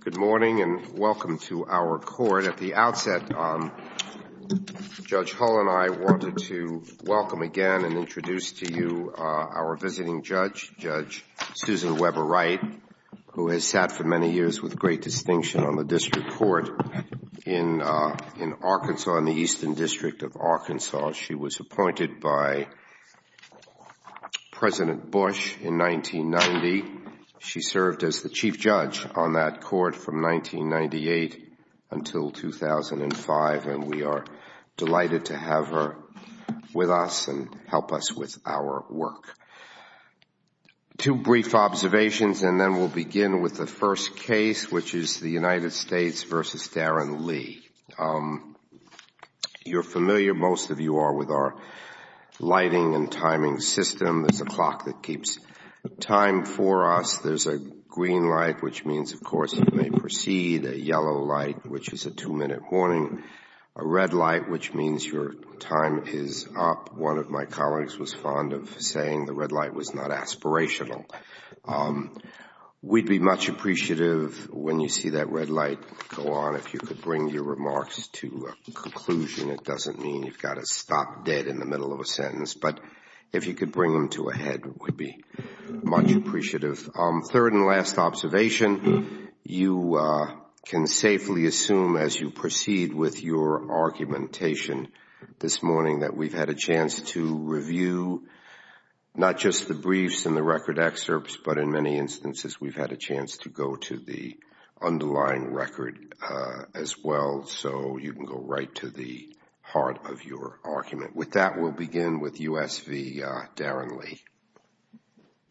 Good morning and welcome to our court. At the outset, Judge Hull and I wanted to welcome again and introduce to you our visiting judge, Judge Susan Weber Wright, who has sat for years in Arkansas, in the Eastern District of Arkansas. She was appointed by President Bush in 1990. She served as the chief judge on that court from 1998 until 2005, and we are delighted to have her with us and help us with our work. Two brief observations, and then we'll begin with the first case, which is the United States v. Darren Lee. You're familiar, most of you are, with our lighting and timing system. There's a clock that keeps time for us. There's a green light, which means, of course, you may proceed, a yellow light, which is a two-minute warning, a red light, which means your time is up. One of my colleagues was fond of saying the red light was not aspirational. We'd be much appreciative, when you see that red light go on, if you could bring your remarks to a conclusion. It doesn't mean you've got to stop dead in the middle of a sentence, but if you could bring them to a head, we'd be much appreciative. Third and last observation, you can safely assume, as you proceed with your argumentation this morning, that we've had a chance to review not just the briefs and the record excerpts, but in many instances, we've had a chance to go to the underlying record as well, so you can go right to the heart of your argument. With that, we'll begin with U.S. v. Darren Lee.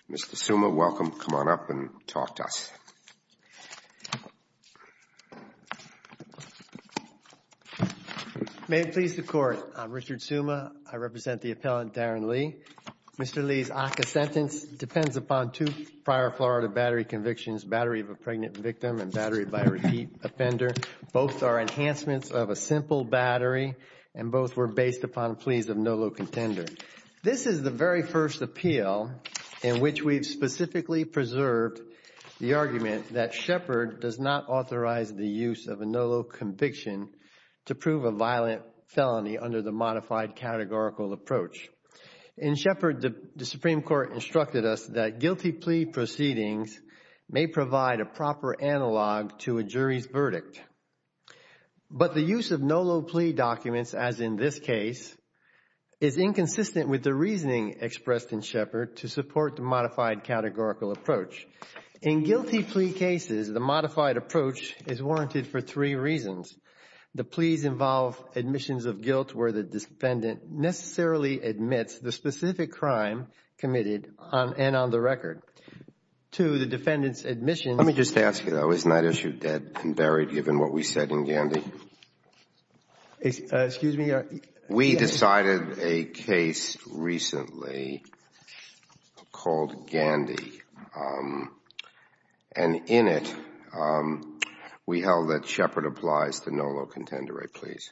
Mr. Suma, welcome. Come on up and talk to us. May it please the Court. I'm Richard Suma. I represent the appellant, Darren Lee. Mr. Suma, based upon two prior Florida battery convictions, Battery of a Pregnant Victim and Battery by a Repeat Offender, both are enhancements of a simple battery, and both were based upon pleas of no low contender. This is the very first appeal in which we've specifically preserved the argument that Shepard does not authorize the use of a no low conviction to prove a violent felony under the modified categorical approach. In Shepard, the Supreme Court instructed us that guilty plea proceedings may provide a proper analog to a jury's verdict, but the use of no low plea documents, as in this case, is inconsistent with the reasoning expressed in Shepard to support the modified categorical approach. In guilty plea cases, the modified approach is warranted for three reasons. The pleas involve admissions of guilt where the defendant necessarily admits the specific crime committed, and on the record, to the defendant's admission. Let me just ask you, though, isn't that issue dead and buried given what we said in Gandy? Excuse me? We decided a case recently called Gandy, and in it, we held that Shepard applies to no low contender rate pleas.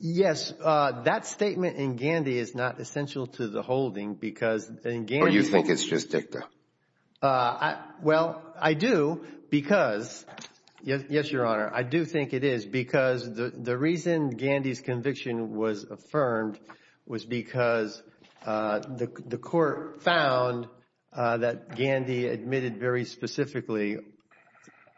Yes, that statement in Gandy is not essential to the holding because in Gandy. Or you think it's just dicta? Well, I do because, yes, Your Honor, I do think it is because the reason Gandy's conviction was affirmed was because the court found that Gandy admitted very specifically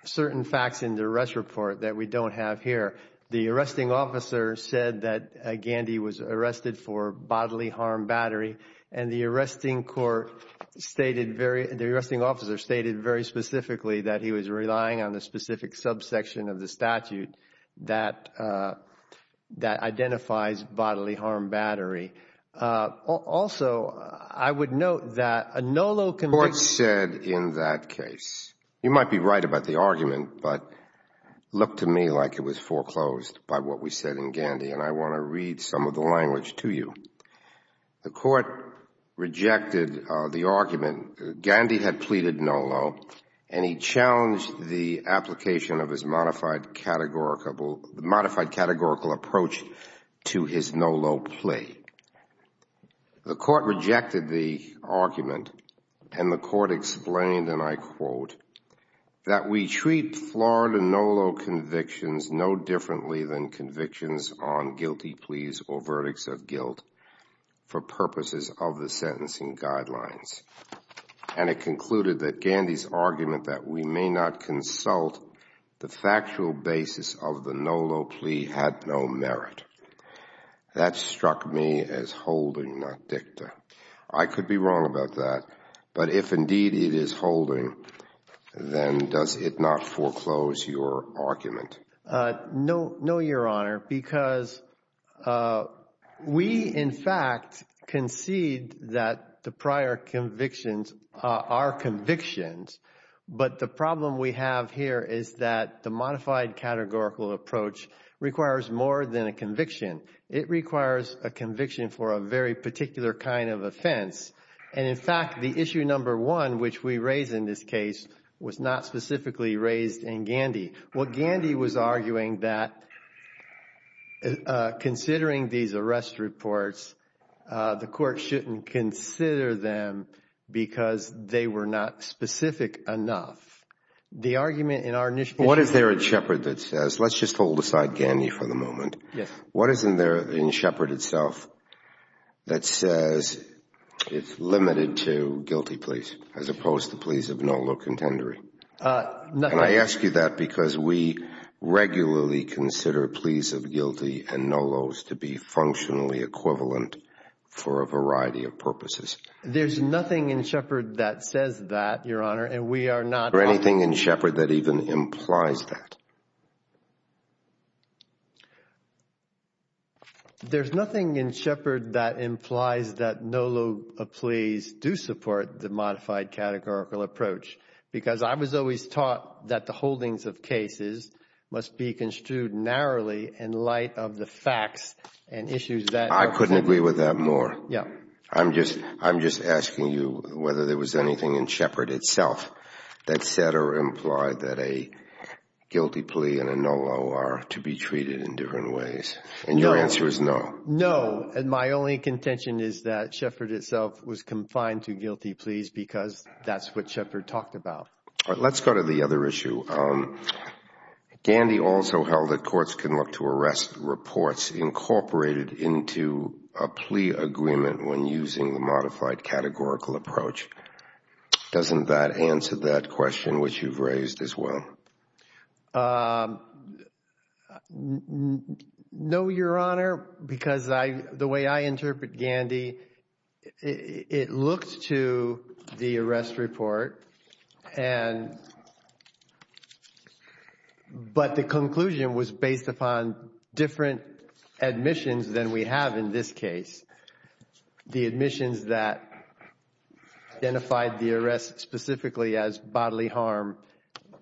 certain facts in the arrest report that we don't have here. The arresting officer said that Gandy was arrested for bodily harm battery, and the arresting court stated very, the arresting officer stated very specifically that he was relying on the specific subsection of the statute that identifies bodily harm battery. Also, I would note that a no low conviction. The court said in that case, you might be right about the argument, but look to me like it was foreclosed by what we said in Gandy, and I want to read some of the language to you. The court rejected the argument. Gandy had pleaded no low, and he challenged the application of his modified categorical approach to his no low plea. The court rejected the argument, and the court explained, and I quote, that we treat Florida no low convictions no differently than convictions on guilty pleas or verdicts of guilt for purposes of the sentencing guidelines, and it concluded that Gandy's argument that we may not consult the factual basis of the no low plea had no merit. That struck me as holding not dicta. I could be wrong about that, but if indeed is holding, then does it not foreclose your argument? No, your honor, because we in fact concede that the prior convictions are convictions, but the problem we have here is that the modified categorical approach requires more than a conviction. It requires a conviction for a particular kind of offense, and in fact, the issue number one, which we raise in this case, was not specifically raised in Gandy. What Gandy was arguing that considering these arrest reports, the court shouldn't consider them because they were not specific enough. The argument in our initiative... What is there at Shepard that says, let's just hold aside Gandy for the moment. What is there in Shepard itself that says it's limited to guilty pleas as opposed to pleas of no low contendery? Nothing. And I ask you that because we regularly consider pleas of guilty and no lows to be functionally equivalent for a variety of purposes. There's nothing in Shepard that says that, your honor, and we are not... Or anything in Shepard that even implies that. There's nothing in Shepard that implies that no low pleas do support the modified categorical approach because I was always taught that the holdings of cases must be construed narrowly in light of the facts and issues that... I couldn't agree with that more. Yeah. I'm just asking you whether there was anything in Shepard itself that said or implied that a guilty plea and a no low are to be treated in different ways. And your answer is no. No. And my only contention is that Shepard itself was confined to guilty pleas because that's what Shepard talked about. Let's go to the other issue. Gandy also held that courts can look to arrest reports incorporated into a plea agreement when using the modified categorical approach. Doesn't that answer that question which you've raised as well? No, your honor, because the way I interpret Gandy, it looked to the arrest report and... we have in this case the admissions that identified the arrest specifically as bodily harm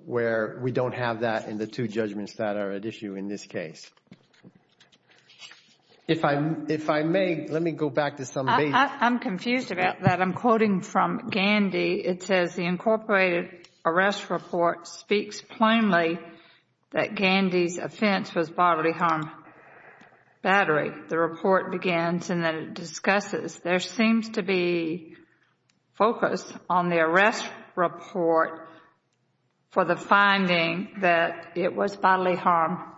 where we don't have that in the two judgments that are at issue in this case. If I may, let me go back to some... I'm confused about that. I'm quoting from Gandy. It says the incorporated arrest report speaks plainly that Gandy's offense was bodily harm battery. The report begins and then it discusses there seems to be focus on the arrest report for the finding that it was bodily harm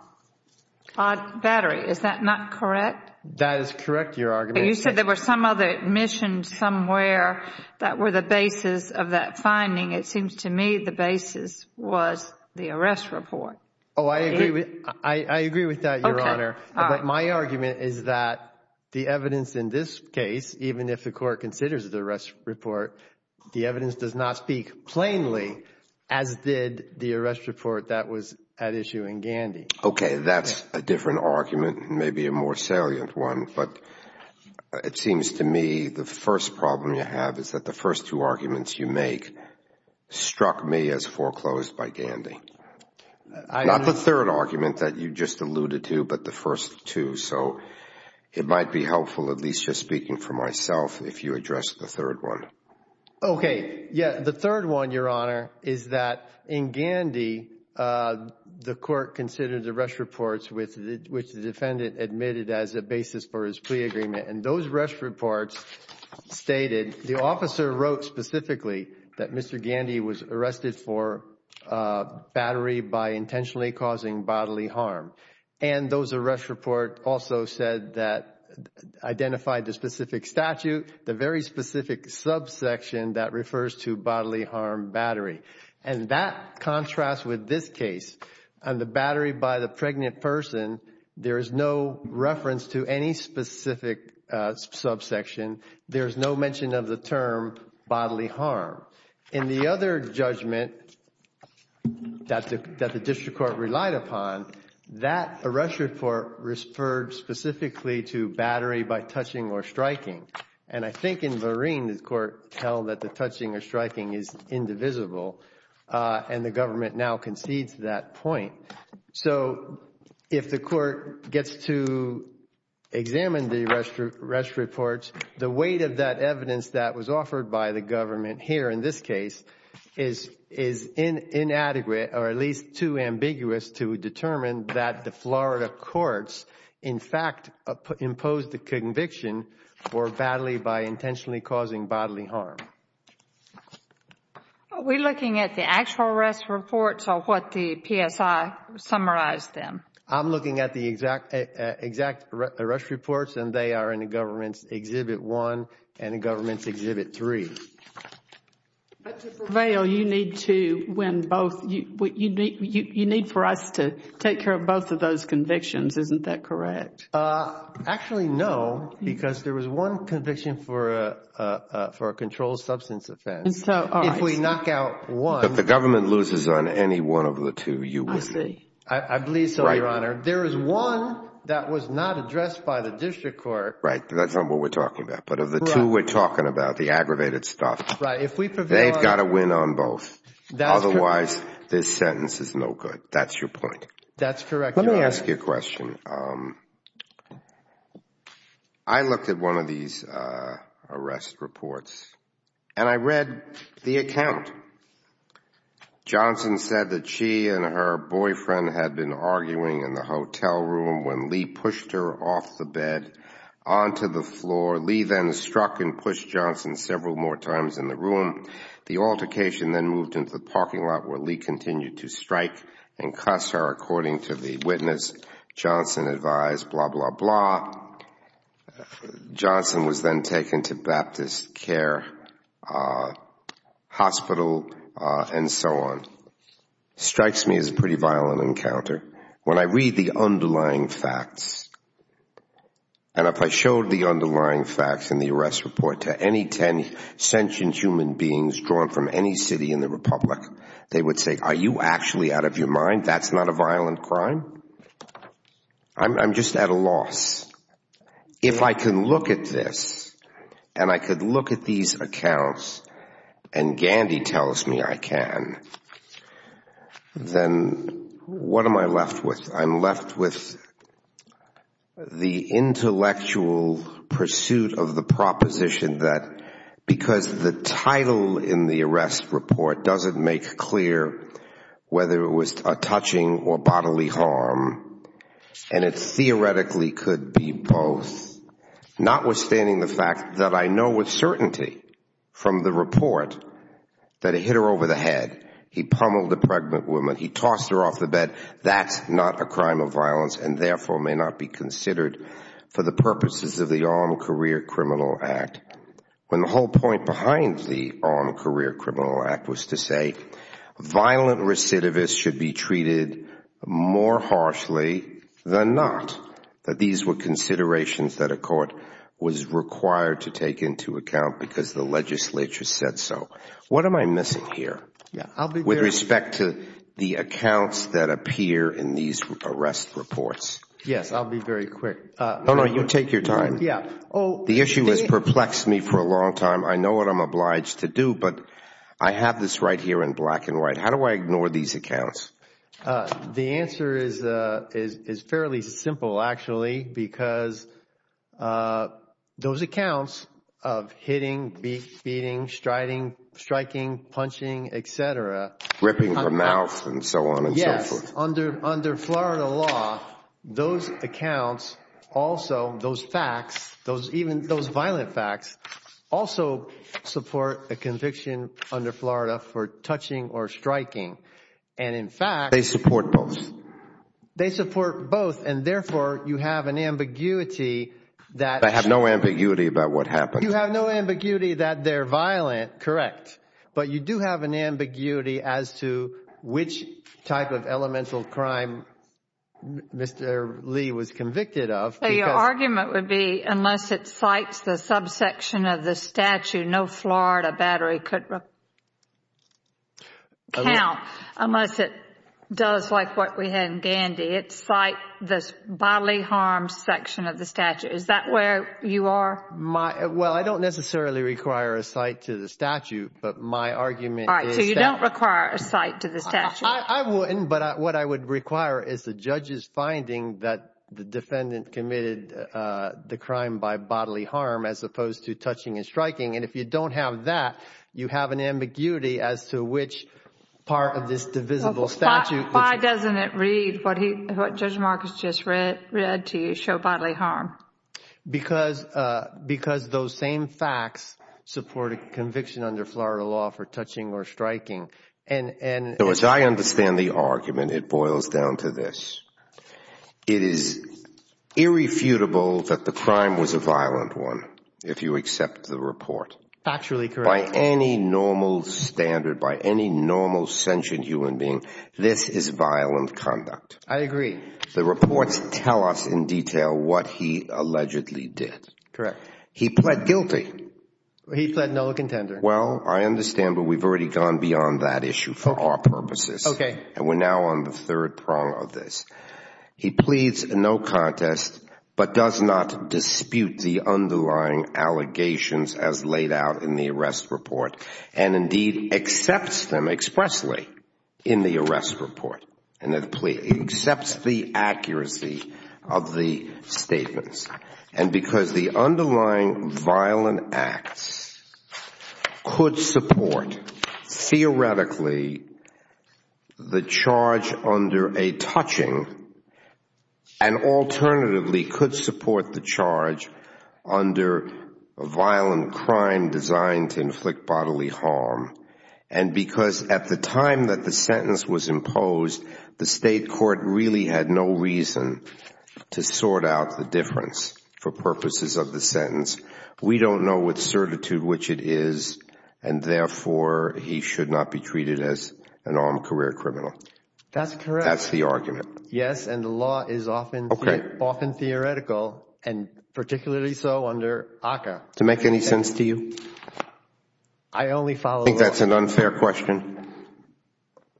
battery. Is that not correct? That is correct, your argument. You said there were some other admissions somewhere that were the basis of that finding. It seems to me the basis was the arrest report. Oh, I agree with that, your honor, but my argument is that the evidence in this case, even if the court considers the arrest report, the evidence does not speak plainly as did the arrest report that was at issue in Gandy. Okay, that's a different argument, maybe a more salient one, but it seems to me the first problem you have is that the first two arguments you make struck me as foreclosed by Gandy. Not the third argument that you just alluded to, but the first two, so it might be helpful, at least just speaking for myself, if you address the third one. Okay, yeah, the third one, your honor, is that in Gandy, the court considered the arrest reports which the defendant admitted as a basis for his plea agreement, and those arrest reports stated, the officer wrote specifically that Mr. Gandy was arrested for battery by intentionally causing bodily harm, and those arrest report also said that, identified the specific statute, the very specific subsection that refers to bodily harm battery. And that contrasts with this case, and the battery by the pregnant person, there is no reference to any specific subsection, there's no mention of the term bodily harm. In the other judgment that the district court relied upon, that arrest report referred specifically to battery by touching or striking, and I think in Vereen, the court held that the and the government now concedes that point. So if the court gets to examine the arrest reports, the weight of that evidence that was offered by the government here in this case is inadequate, or at least too ambiguous to determine that the Florida courts, in fact, imposed the conviction for battery by intentionally causing bodily harm. Are we looking at the actual arrest reports, or what the PSI summarized them? I'm looking at the exact arrest reports, and they are in the government's exhibit one, and the government's exhibit three. But to prevail, you need to win both, you need for us to take care of both of those convictions, isn't that correct? Actually, no, because there was one conviction for a controlled substance offense, if we knock out one. If the government loses on any one of the two, you win. I believe so, Your Honor. There is one that was not addressed by the district court. Right, that's not what we're talking about. But of the two we're talking about, the aggravated stuff, they've got to win on both. Otherwise, this sentence is no good. That's your point. That's correct, Your Honor. Let me ask you a question. I looked at one of these arrest reports, and I read the account. Johnson said that she and her boyfriend had been arguing in the hotel room when Lee pushed her off the bed onto the floor. Lee then struck and pushed Johnson several more times in the room. The altercation then moved into the parking lot where Lee continued to strike and cuss her, according to the witness. Johnson advised, blah, blah, blah. Johnson was then taken to Baptist Care Hospital, and so on. It strikes me as a pretty violent encounter. When I read the underlying facts, and if I showed the underlying facts in the arrest report to any ten sentient human beings drawn from any city in the Republic, they would say, are you actually out of your mind? That's not a violent crime. I'm just at a loss. If I can look at this, and I could look at these accounts, and Gandhi tells me I can, then what am I left with? I'm left with the intellectual pursuit of the proposition that because the title in the arrest report doesn't make clear whether it was a touching or bodily harm, and it theoretically could be both. Notwithstanding the fact that I know with certainty from the report that he hit her over the head. He pummeled a pregnant woman. He tossed her off the bed. That's not a crime of violence and therefore may not be considered for the purposes of the Armed Career Criminal Act. When the whole point behind the Armed Career Criminal Act was to say violent recidivists should be treated more harshly than not, that these were considerations that a court was required to take into account because the legislature said so. What am I missing here with respect to the accounts that appear in these arrest reports? Yes, I'll be very quick. No, no, you take your time. The issue has perplexed me for a long time. I know what I'm obliged to do, but I have this right here in black and white. How do I ignore these accounts? The answer is fairly simple, actually, because those accounts of hitting, beating, striking, punching, etc. Ripping her mouth and so on and so forth. Under Florida law, those accounts also, those facts, even those violent facts, also support a conviction under Florida for touching or striking. And in fact, they support both. And therefore, you have an ambiguity. I have no ambiguity about what happened. You have no ambiguity that they're violent, correct. But you do have an ambiguity as to which type of elemental crime Mr. Lee was convicted of. So your argument would be unless it cites the subsection of the statute, no Florida battery could count. Unless it does like what we had in Gandy. It cites the bodily harm section of the statute. Is that where you are? Well, I don't necessarily require a cite to the statute, but my argument. All right. So you don't require a cite to the statute? I wouldn't. But what I would require is the judge's finding that the defendant committed the crime by bodily harm as opposed to touching and striking. And if you don't have that, you have an ambiguity as to which part of this divisible statute. Why doesn't it read what Judge Marcus just read to you, show bodily harm? Because those same facts support a conviction under Florida law for touching or striking. So as I understand the argument, it boils down to this. It is irrefutable that the crime was a violent one, if you accept the report. Factually correct. By any normal standard, by any normal sentient human being, this is violent conduct. I agree. The reports tell us in detail what he allegedly did. Correct. He pled guilty. He pled no contender. Well, I understand, but we've already gone beyond that issue for our purposes. Okay. And we're now on the third prong of this. He pleads no contest, but does not dispute the underlying allegations as laid out in the arrest report, and indeed accepts them expressly in the arrest report. And it accepts the accuracy of the statements. And because the underlying violent acts could support, theoretically, the charge under a touching, and alternatively could support the charge under a violent crime designed to inflict bodily harm, and because at the time that the sentence was imposed, the state court really had no reason to sort out the difference for purposes of the sentence. We don't know with certitude which it is, and therefore he should not be treated as an armed career criminal. That's correct. That's the argument. Yes, and the law is often theoretical, and particularly so under ACCA. To make any sense to you? I only follow the law. Do you think that's an unfair question?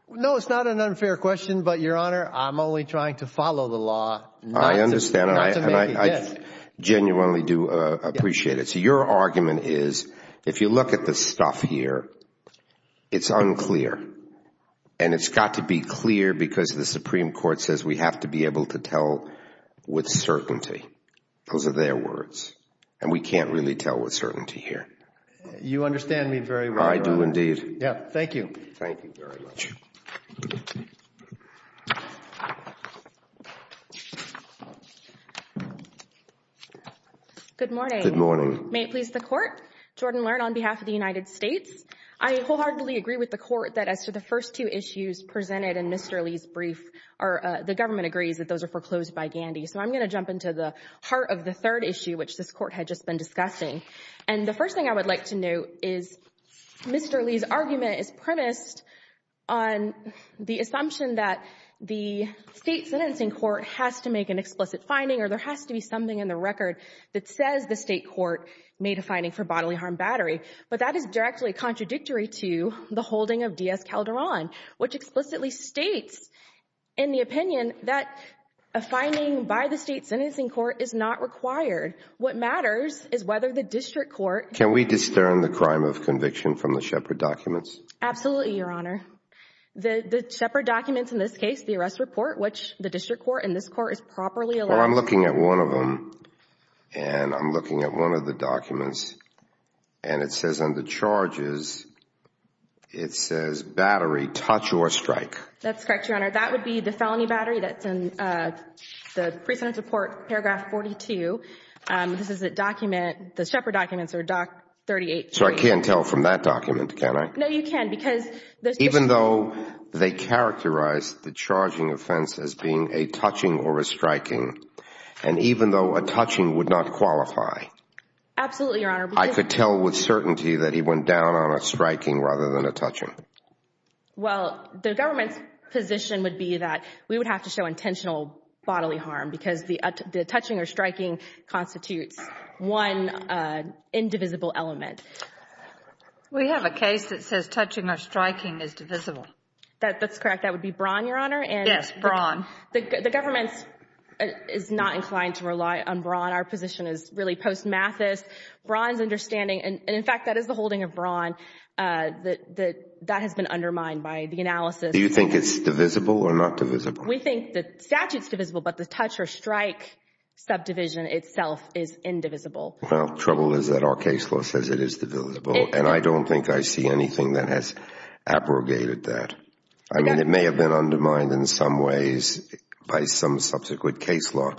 No, it's not an unfair question, but Your Honor, I'm only trying to follow the law. I understand, and I genuinely do appreciate it. So your argument is, if you look at the stuff here, it's unclear, and it's got to be clear because the Supreme Court says we have to be able to tell with certainty. Those are their words, and we can't really tell with certainty here. You understand me very well, Your Honor. I do indeed. Yeah. Thank you. Thank you very much. Good morning. Good morning. May it please the Court. Jordan Learn on behalf of the United States. I wholeheartedly agree with the Court that as to the first two issues presented in Mr. Lee's brief, the government agrees that those are foreclosed by Gandy. So I'm going to jump into the heart of the third issue, which this Court had just been discussing. And the first thing I would like to note is Mr. Lee's argument is premised on the assumption that the state sentencing court has to make an explicit finding, or there has to be something in the record that says the state court made a finding for bodily harm battery. But that is directly contradictory to the holding of D.S. Calderon, which explicitly states in the opinion that a finding by the state sentencing court is not required. What matters is whether the district court... Can we discern the crime of conviction from the Shepard documents? Absolutely, Your Honor. The Shepard documents in this case, the arrest report, which the district court and this court is properly allowed... Well, I'm looking at one of them, and I'm looking at one of the documents, and it says on the charges, it says battery touch or strike. That's correct, Your Honor. That would be the felony battery that's in the precedence report, paragraph 42. This is a document... the Shepard documents are doc... So I can't tell from that document, can I? No, you can't, because... Even though they characterize the charging offense as being a touching or a striking, and even though a touching would not qualify... Absolutely, Your Honor. I could tell with certainty that he went down on a striking rather than a touching. Well, the government's position would be that we would have to show intentional bodily harm, because the touching or striking constitutes one indivisible element. We have a case that says touching or striking is divisible. That's correct. That would be Braun, Your Honor, and... Yes, Braun. The government is not inclined to rely on Braun. Our position is really post-Mathis. Braun's understanding, and in fact, that is the holding of Braun, that has been undermined by the analysis. Do you think it's divisible or not divisible? We think the statute's divisible, but the touch or strike subdivision itself is indivisible. Well, trouble is that our case law says it is divisible, and I don't think I see anything that has abrogated that. I mean, it may have been undermined in some ways by some subsequent case law,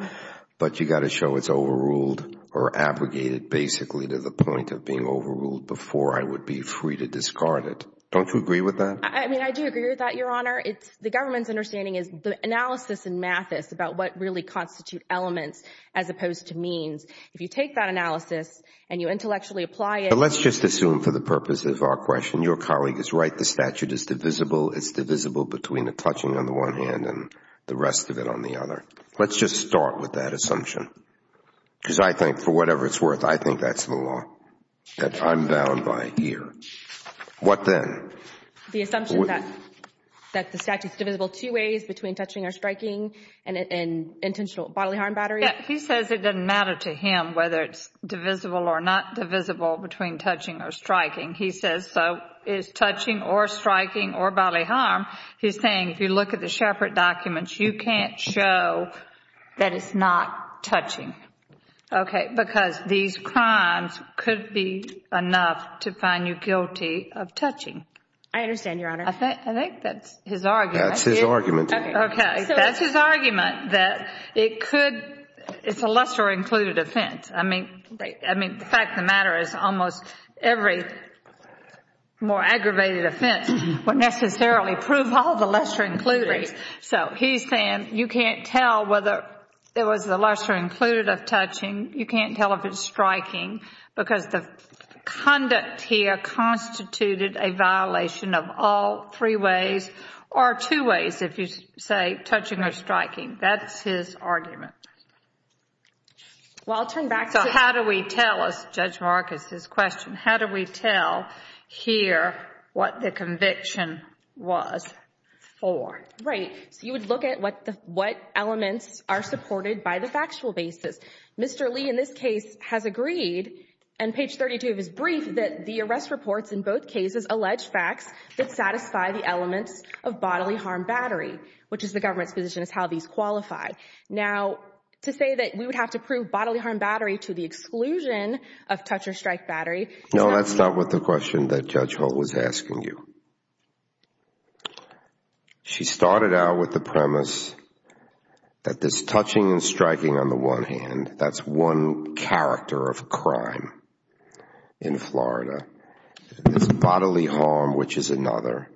but you've got to show it's overruled or abrogated, basically, to the point of being overruled before I would be free to discard it. Don't you agree with that? I mean, I do agree with that, Your Honor. The government's understanding is the analysis in Mathis about what really constitute elements as opposed to means. If you take that analysis and you intellectually apply it... Let's just assume for the purpose of our question, your colleague is right. The statute is divisible. It's divisible between the touching on the one hand and the rest of it on the other. Let's just start with that assumption because I think for whatever it's worth, I think that's the law that I'm bound by here. What then? The assumption that the statute's divisible two ways, between touching or striking and intentional bodily harm battery. Yeah. He says it doesn't matter to him whether it's divisible or not divisible between touching or striking. He says so is touching or striking or bodily harm. He's saying if you look at the Shepard documents, you can't show that it's not touching. Okay. Because these crimes could be enough to find you guilty of touching. I understand, Your Honor. I think that's his argument. That's his argument. Okay. That's his argument that it could... it's a lesser included offense. I mean, the fact of the matter is almost every more aggravated offense would necessarily prove all the lesser included. So he's saying you can't tell whether it was the lesser included of touching. You can't tell if it's striking because the conduct here constituted a violation of all three ways or two ways, if you say, touching or striking. That's his argument. Well, I'll turn back to... So how do we tell us, Judge Marcus's question, how do we tell here what the conviction was for? Right. So you would look at what elements are supported by the factual basis. Mr. Lee, in this case, has agreed, and page 32 is brief, that the arrest reports in both cases allege facts that satisfy the elements of bodily harm battery, which is the government's position is how these qualify. Now, to say that we would have to prove bodily harm battery to the exclusion of touch or strike battery... No, that's not what the question that Judge Holt was asking you. She started out with the premise that this touching and striking on the one hand, that's one character of crime in Florida. It's bodily harm, which is another,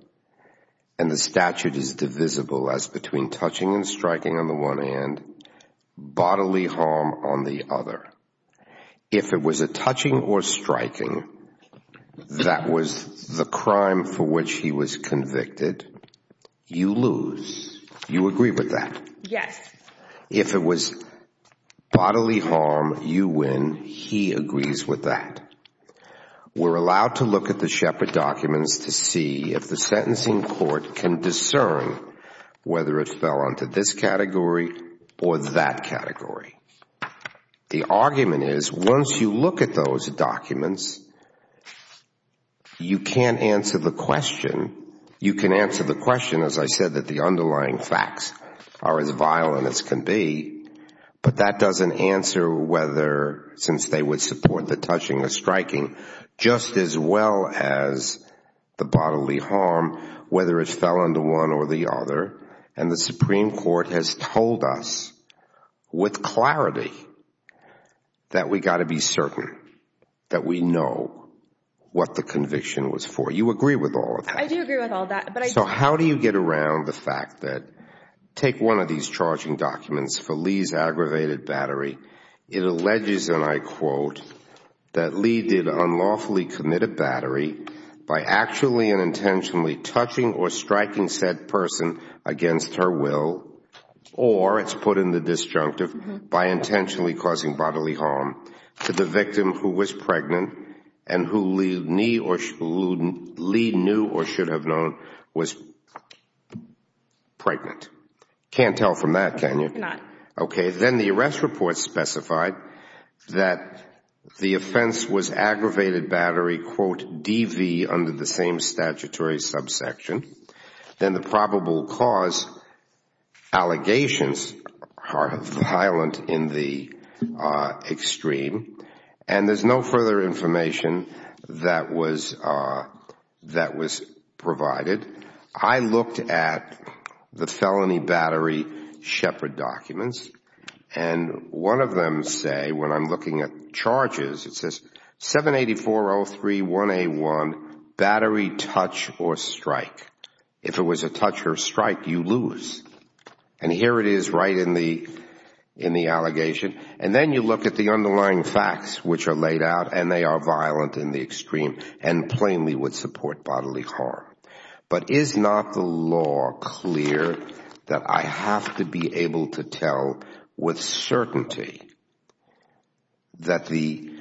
and the statute is divisible as between touching and striking on the one hand, bodily harm on the other. If it was a touching or striking that was the crime for which he was convicted, you lose. You agree with that? Yes. If it was bodily harm, you win. He agrees with that. We're allowed to look at the Shepard documents to see if the sentencing court can discern whether it fell onto this category or that category. The argument is once you look at those documents, you can't answer the question. You can answer the question, as I said, that the underlying facts are as violent as can be, but that doesn't answer whether, since they would support the touching or striking, just as well as the bodily harm, whether it fell onto one or the other. The Supreme Court has told us with clarity that we've got to be certain that we know what the conviction was for. You agree with all of that? I do agree with all of that. How do you get around the fact that, take one of these charging documents for Lee's aggravated battery, it alleges, and I quote, that Lee did unlawfully commit a battery by actually and intentionally touching or striking said person against her will, or it's put in the disjunctive, by intentionally causing bodily harm to the victim who was pregnant and who Lee knew or should have known was pregnant. Can't tell from that, can you? Not. Okay. Then the arrest report specified that the offense was aggravated battery, quote, DV, under the same statutory subsection. Then the probable cause allegations are violent in the extreme, and there's no further information that was provided. I looked at the felony battery shepherd documents, and one of them say, when I'm looking at charges, it says 784-03-1A1, battery touch or strike. If it was a touch or strike, you lose. Here it is right in the allegation. Then you look at the underlying facts which are laid out, and they are violent in the extreme and plainly would support bodily harm. But is not the law clear that I have to be able to tell with certainty that the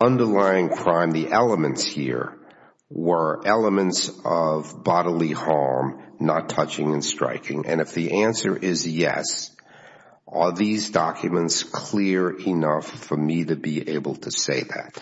underlying crime, the elements here, were elements of bodily harm, not touching and striking, and if the answer is yes, are these documents clear enough for me to be able to say that?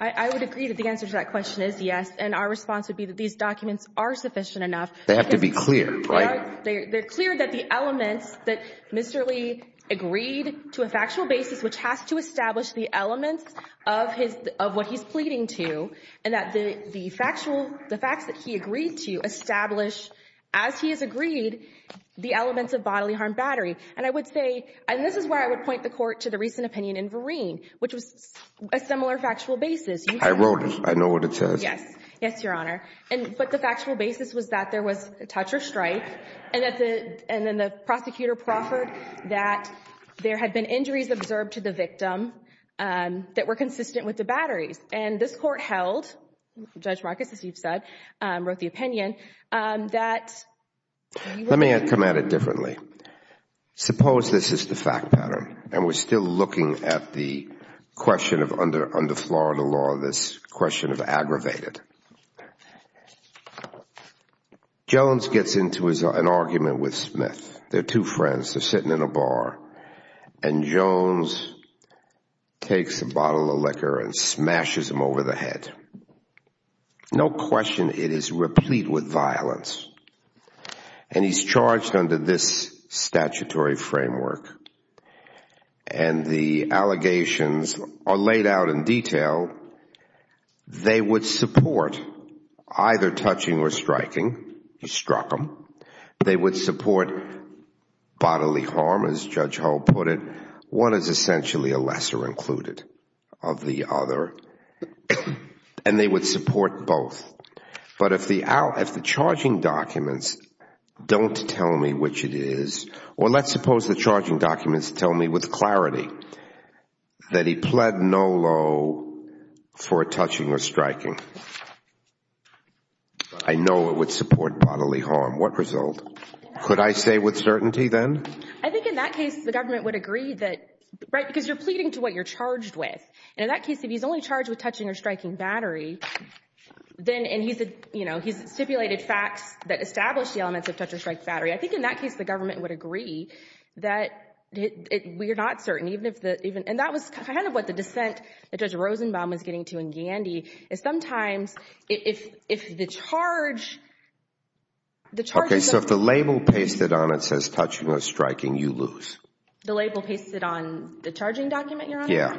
I would agree that the answer to that question is yes, and our response would be that these documents are sufficient enough. They have to be clear, right? They're clear that the elements that Mr. Lee agreed to a factual basis which has to establish the elements of what he's pleading to, and that the facts that he agreed to establish as he has agreed the elements of bodily harm battery. And I would say, and this is where I would point the Court to the recent opinion in Vereen, which was a similar factual basis. I wrote it. I know what it says. Yes. Yes, Your Honor. But the factual basis was that there was a touch or strike, and then the prosecutor proffered that there had been injuries observed to the victim that were consistent with the batteries. And this Court held, Judge Marcus, as you've said, wrote the opinion, that we would Let me come at it differently. Suppose this is the fact pattern, and we're still looking at the question of under Florida law, this question of aggravated. Jones gets into an argument with Smith. They're two friends. They're sitting in a bar, and Jones takes a bottle of liquor and smashes him over the head. No question it is replete with violence. And he's charged under this statutory framework. And the allegations are laid out in detail. They would support either touching or striking. He struck him. They would support bodily harm, as Judge Hull put it. One is essentially a lesser included of the other, and they would support both. But if the charging documents don't tell me which it is, or let's suppose the charging documents don't show for touching or striking, I know it would support bodily harm. What result? Could I say with certainty, then? I think in that case, the government would agree that, right, because you're pleading to what you're charged with. And in that case, if he's only charged with touching or striking battery, then, and he's a, you know, he's stipulated facts that establish the elements of touch or strike battery. I think in that case, the government would agree that we are not certain. And that was kind of what the dissent that Judge Rosenbaum was getting to in Gandy, is sometimes, if the charge, the charges. Okay, so if the label pasted on it says touching or striking, you lose. The label pasted on the charging document, Your Honor? Yeah.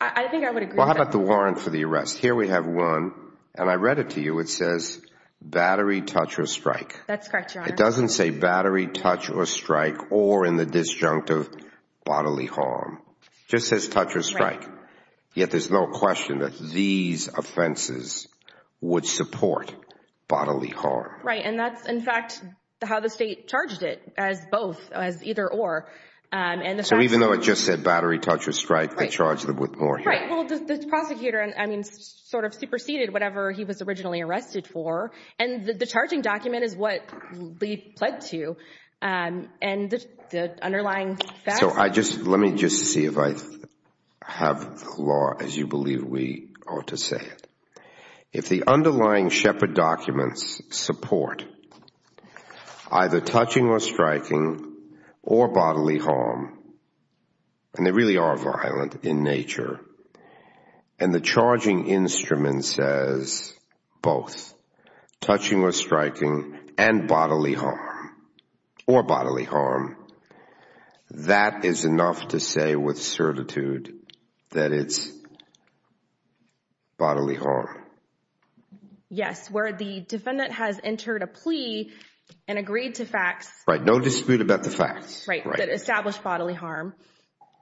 I think I would agree. Well, how about the warrant for the arrest? Here we have one, and I read it to you. It says battery, touch or strike. That's correct, Your Honor. It doesn't say battery, touch or strike, or in the disjunctive, bodily harm. Just says touch or strike. Yet there's no question that these offenses would support bodily harm. Right. And that's, in fact, how the state charged it, as both, as either or. And so even though it just said battery, touch or strike, they charged them with more. Right. Well, the prosecutor, I mean, sort of superseded whatever he was originally arrested for. And the charging document is what they pled to. And the underlying facts... So I just, let me just see if I have the law as you believe we ought to say it. If the underlying Shepard documents support either touching or striking or bodily harm, and they really are violent in nature, and the charging instrument says both, touching or striking and bodily harm, or bodily harm, that is enough to say with certitude that it's bodily harm. Yes. Where the defendant has entered a plea and agreed to facts... Right. No dispute about the facts. Right. That established bodily harm.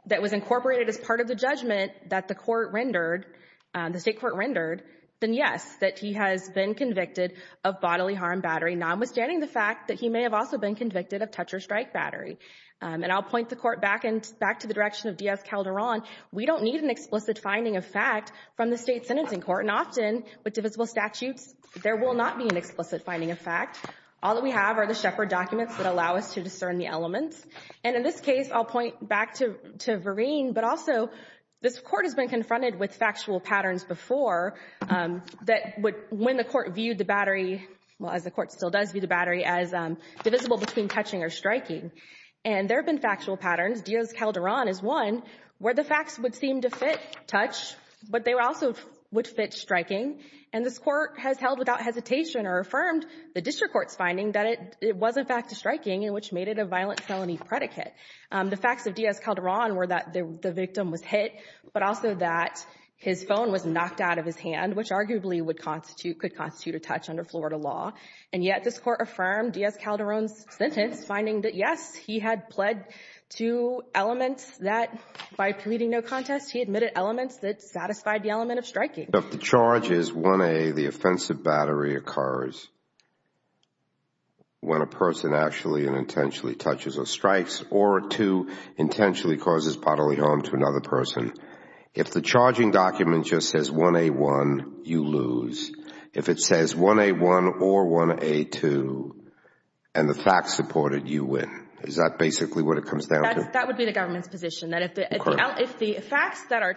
That was incorporated as part of the judgment that the court rendered, the state court rendered, then yes, that he has been convicted of bodily harm battery, notwithstanding the fact that he may have also been convicted of touch or strike battery. And I'll point the court back to the direction of D.F. Calderon. We don't need an explicit finding of fact from the state sentencing court. And often with divisible statutes, there will not be an explicit finding of fact. All that we have are the Shepard documents that allow us to discern the elements. And in this case, I'll point back to Vereen. But also, this court has been confronted with factual patterns before that when the court viewed the battery, well, as the court still does view the battery as divisible between touching or striking. And there have been factual patterns. D.F. Calderon is one where the facts would seem to fit touch, but they also would fit striking. And this court has held without hesitation or affirmed the district court's finding that it was in fact striking, and which made it a violent felony predicate. The facts of D.F. Calderon were that the victim was hit, but also that his phone was knocked out of his hand, which arguably would constitute, could constitute a touch under Florida law. And yet this court affirmed D.F. Calderon's sentence, finding that yes, he had pled to elements that by pleading no contest, he admitted elements that satisfied the element of striking. If the charge is 1A, the offensive battery occurs when a person actually and intentionally touches or strikes, or two, intentionally causes bodily harm to another person. If the charging document just says 1A1, you lose. If it says 1A1 or 1A2, and the facts support it, you win. Is that basically what it comes down to? That would be the government's position, that if the facts that are,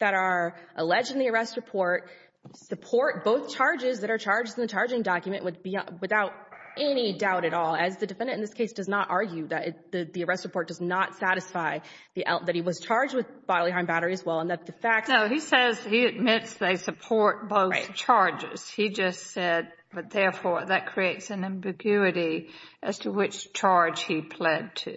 that are alleged in the arrest report support both charges that are charged in the charging document, would be without any doubt at all, as the defendant in this case does not argue that the arrest report does not satisfy the, that he was charged with bodily harm battery as well, and that the facts... No, he says, he admits they support both charges. He just said, but therefore that creates an ambiguity as to which charge he pled to.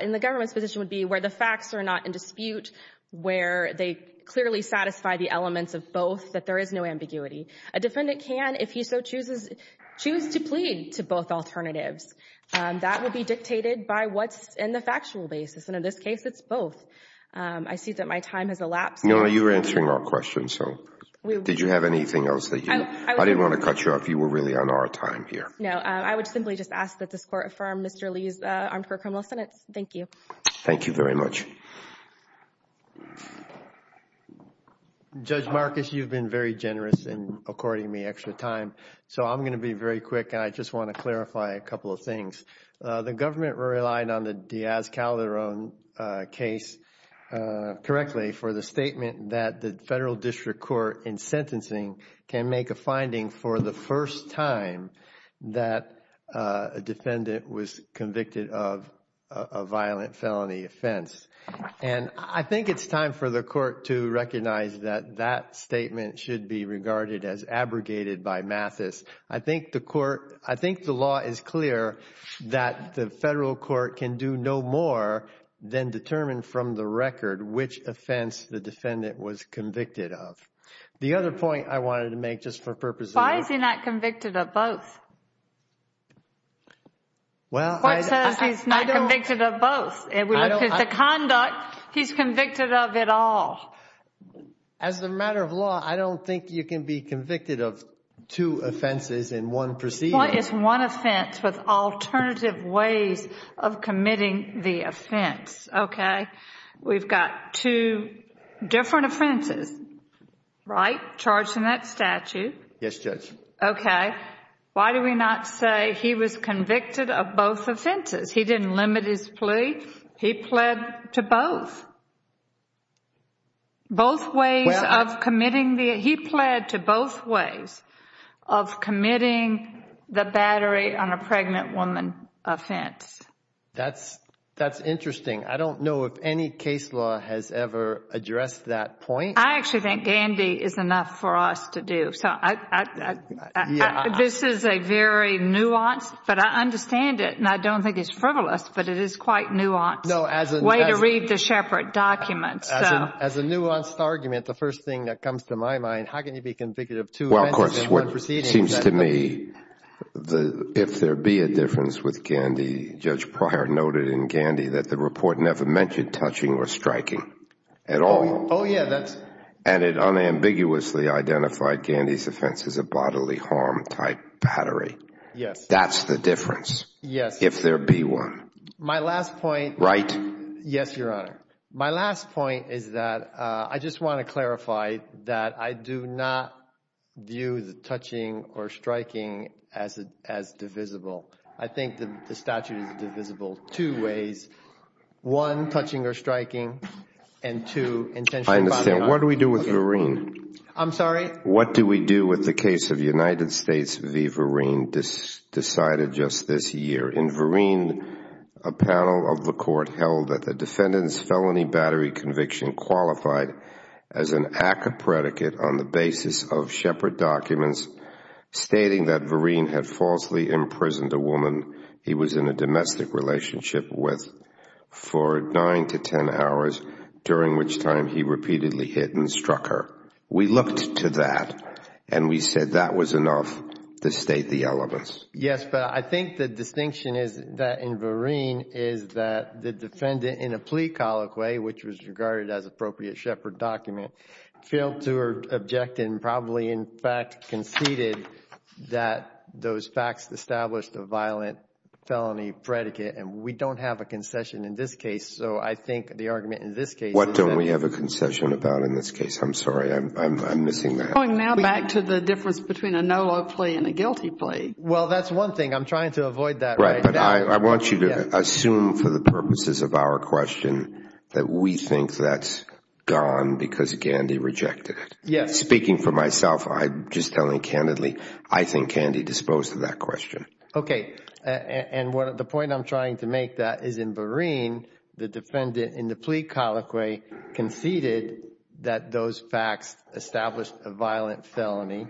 And the government's position would be where the facts are not in dispute, where they clearly satisfy the elements of both, that there is no ambiguity. A defendant can, if he so chooses, choose to plead to both alternatives. That would be dictated by what's in the factual basis. And in this case, it's both. I see that my time has elapsed. No, you were answering our question. So did you have anything else that you... I didn't want to cut you off. You were really on our time here. No, I would simply just ask that this court affirm Mr. Lee's armed court criminal sentence. Thank you. Thank you very much. Judge Marcus, you've been very generous in according me extra time. So I'm going to be very quick, and I just want to clarify a couple of things. The government relied on the Diaz-Calderon case, correctly, for the statement that the federal district court in sentencing can make a finding for the first time that a defendant was convicted of a violent felony offense. And I think it's time for the court to recognize that that statement should be regarded as abrogated by Mathis. I think the court... I think the law is clear that the federal court can do no more than determine from the record which offense the defendant was convicted of. The other point I wanted to make, just for purposes... Why is he not convicted of both? Well, I... The court says he's not convicted of both. The conduct, he's convicted of it all. As a matter of law, I don't think you can be convicted of two offenses in one proceeding. What is one offense with alternative ways of committing the offense? Okay. We've got two different offenses, right? Charged in that statute. Yes, Judge. Okay. Why do we not say he was convicted of both offenses? He didn't limit his plea. He pled to both. Both ways of committing the... He pled to both ways of committing the battery on a pregnant woman offense. That's interesting. I don't know if any case law has ever addressed that point. I actually think Gandy is enough for us to do. So this is a very nuanced... But I understand it, and I don't think it's frivolous, but it is quite nuanced. No, as in... Way to read the Shepard documents. As a nuanced argument, the first thing that comes to my mind, how can you be convicted of two offenses in one proceeding? Well, of course, what seems to me, if there be a difference with Gandy, Judge Pryor noted in Gandy that the report never mentioned touching or striking at all. Oh, yeah, that's... And it unambiguously identified Gandy's offense as a bodily harm type battery. Yes. That's the difference. Yes. If there be one. My last point... Right? Yes, Your Honor. My last point is that I just want to clarify that I do not view the touching or striking as divisible. I think the statute is divisible two ways. One, touching or striking, and two, intentionally bodily harm. What do we do with Vereen? I'm sorry? What do we do with the case of United States v. Vereen decided just this year? In Vereen, a panel of the court held that the defendant's felony battery conviction qualified as an ACCA predicate on the basis of Shepard documents stating that Vereen had falsely imprisoned a woman he was in a domestic relationship with for nine to ten hours, during which time he repeatedly hit and struck her. We looked to that, and we said that was enough to state the elements. Yes, but I think the distinction is that in Vereen is that the defendant, in a plea colloquy, which was regarded as appropriate Shepard document, failed to object and probably, in fact, conceded that those facts established a violent felony predicate, and we don't have a concession in this case. I think the argument in this case is that... What don't we have a concession about in this case? I'm sorry, I'm missing that. Going now back to the difference between a no-law plea and a guilty plea. Well, that's one thing. I'm trying to avoid that right now. Right, but I want you to assume for the purposes of our question that we think that's gone because Gandy rejected it. Yes. Speaking for myself, I'm just telling candidly, I think Gandy disposed of that question. Okay, and the point I'm trying to make that is in Vereen, the defendant in the plea colloquy conceded that those facts established a violent felony,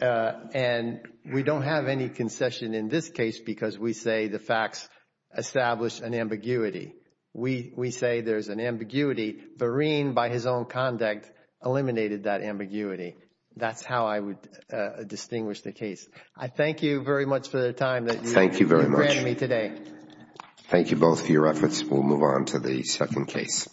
and we don't have any concession in this case because we say the facts established an ambiguity. We say there's an ambiguity. Vereen, by his own conduct, eliminated that ambiguity. That's how I would distinguish the case. I thank you very much for the time that you've given me today. Thank you very much. Thank you both for your efforts. We'll move on to the second case.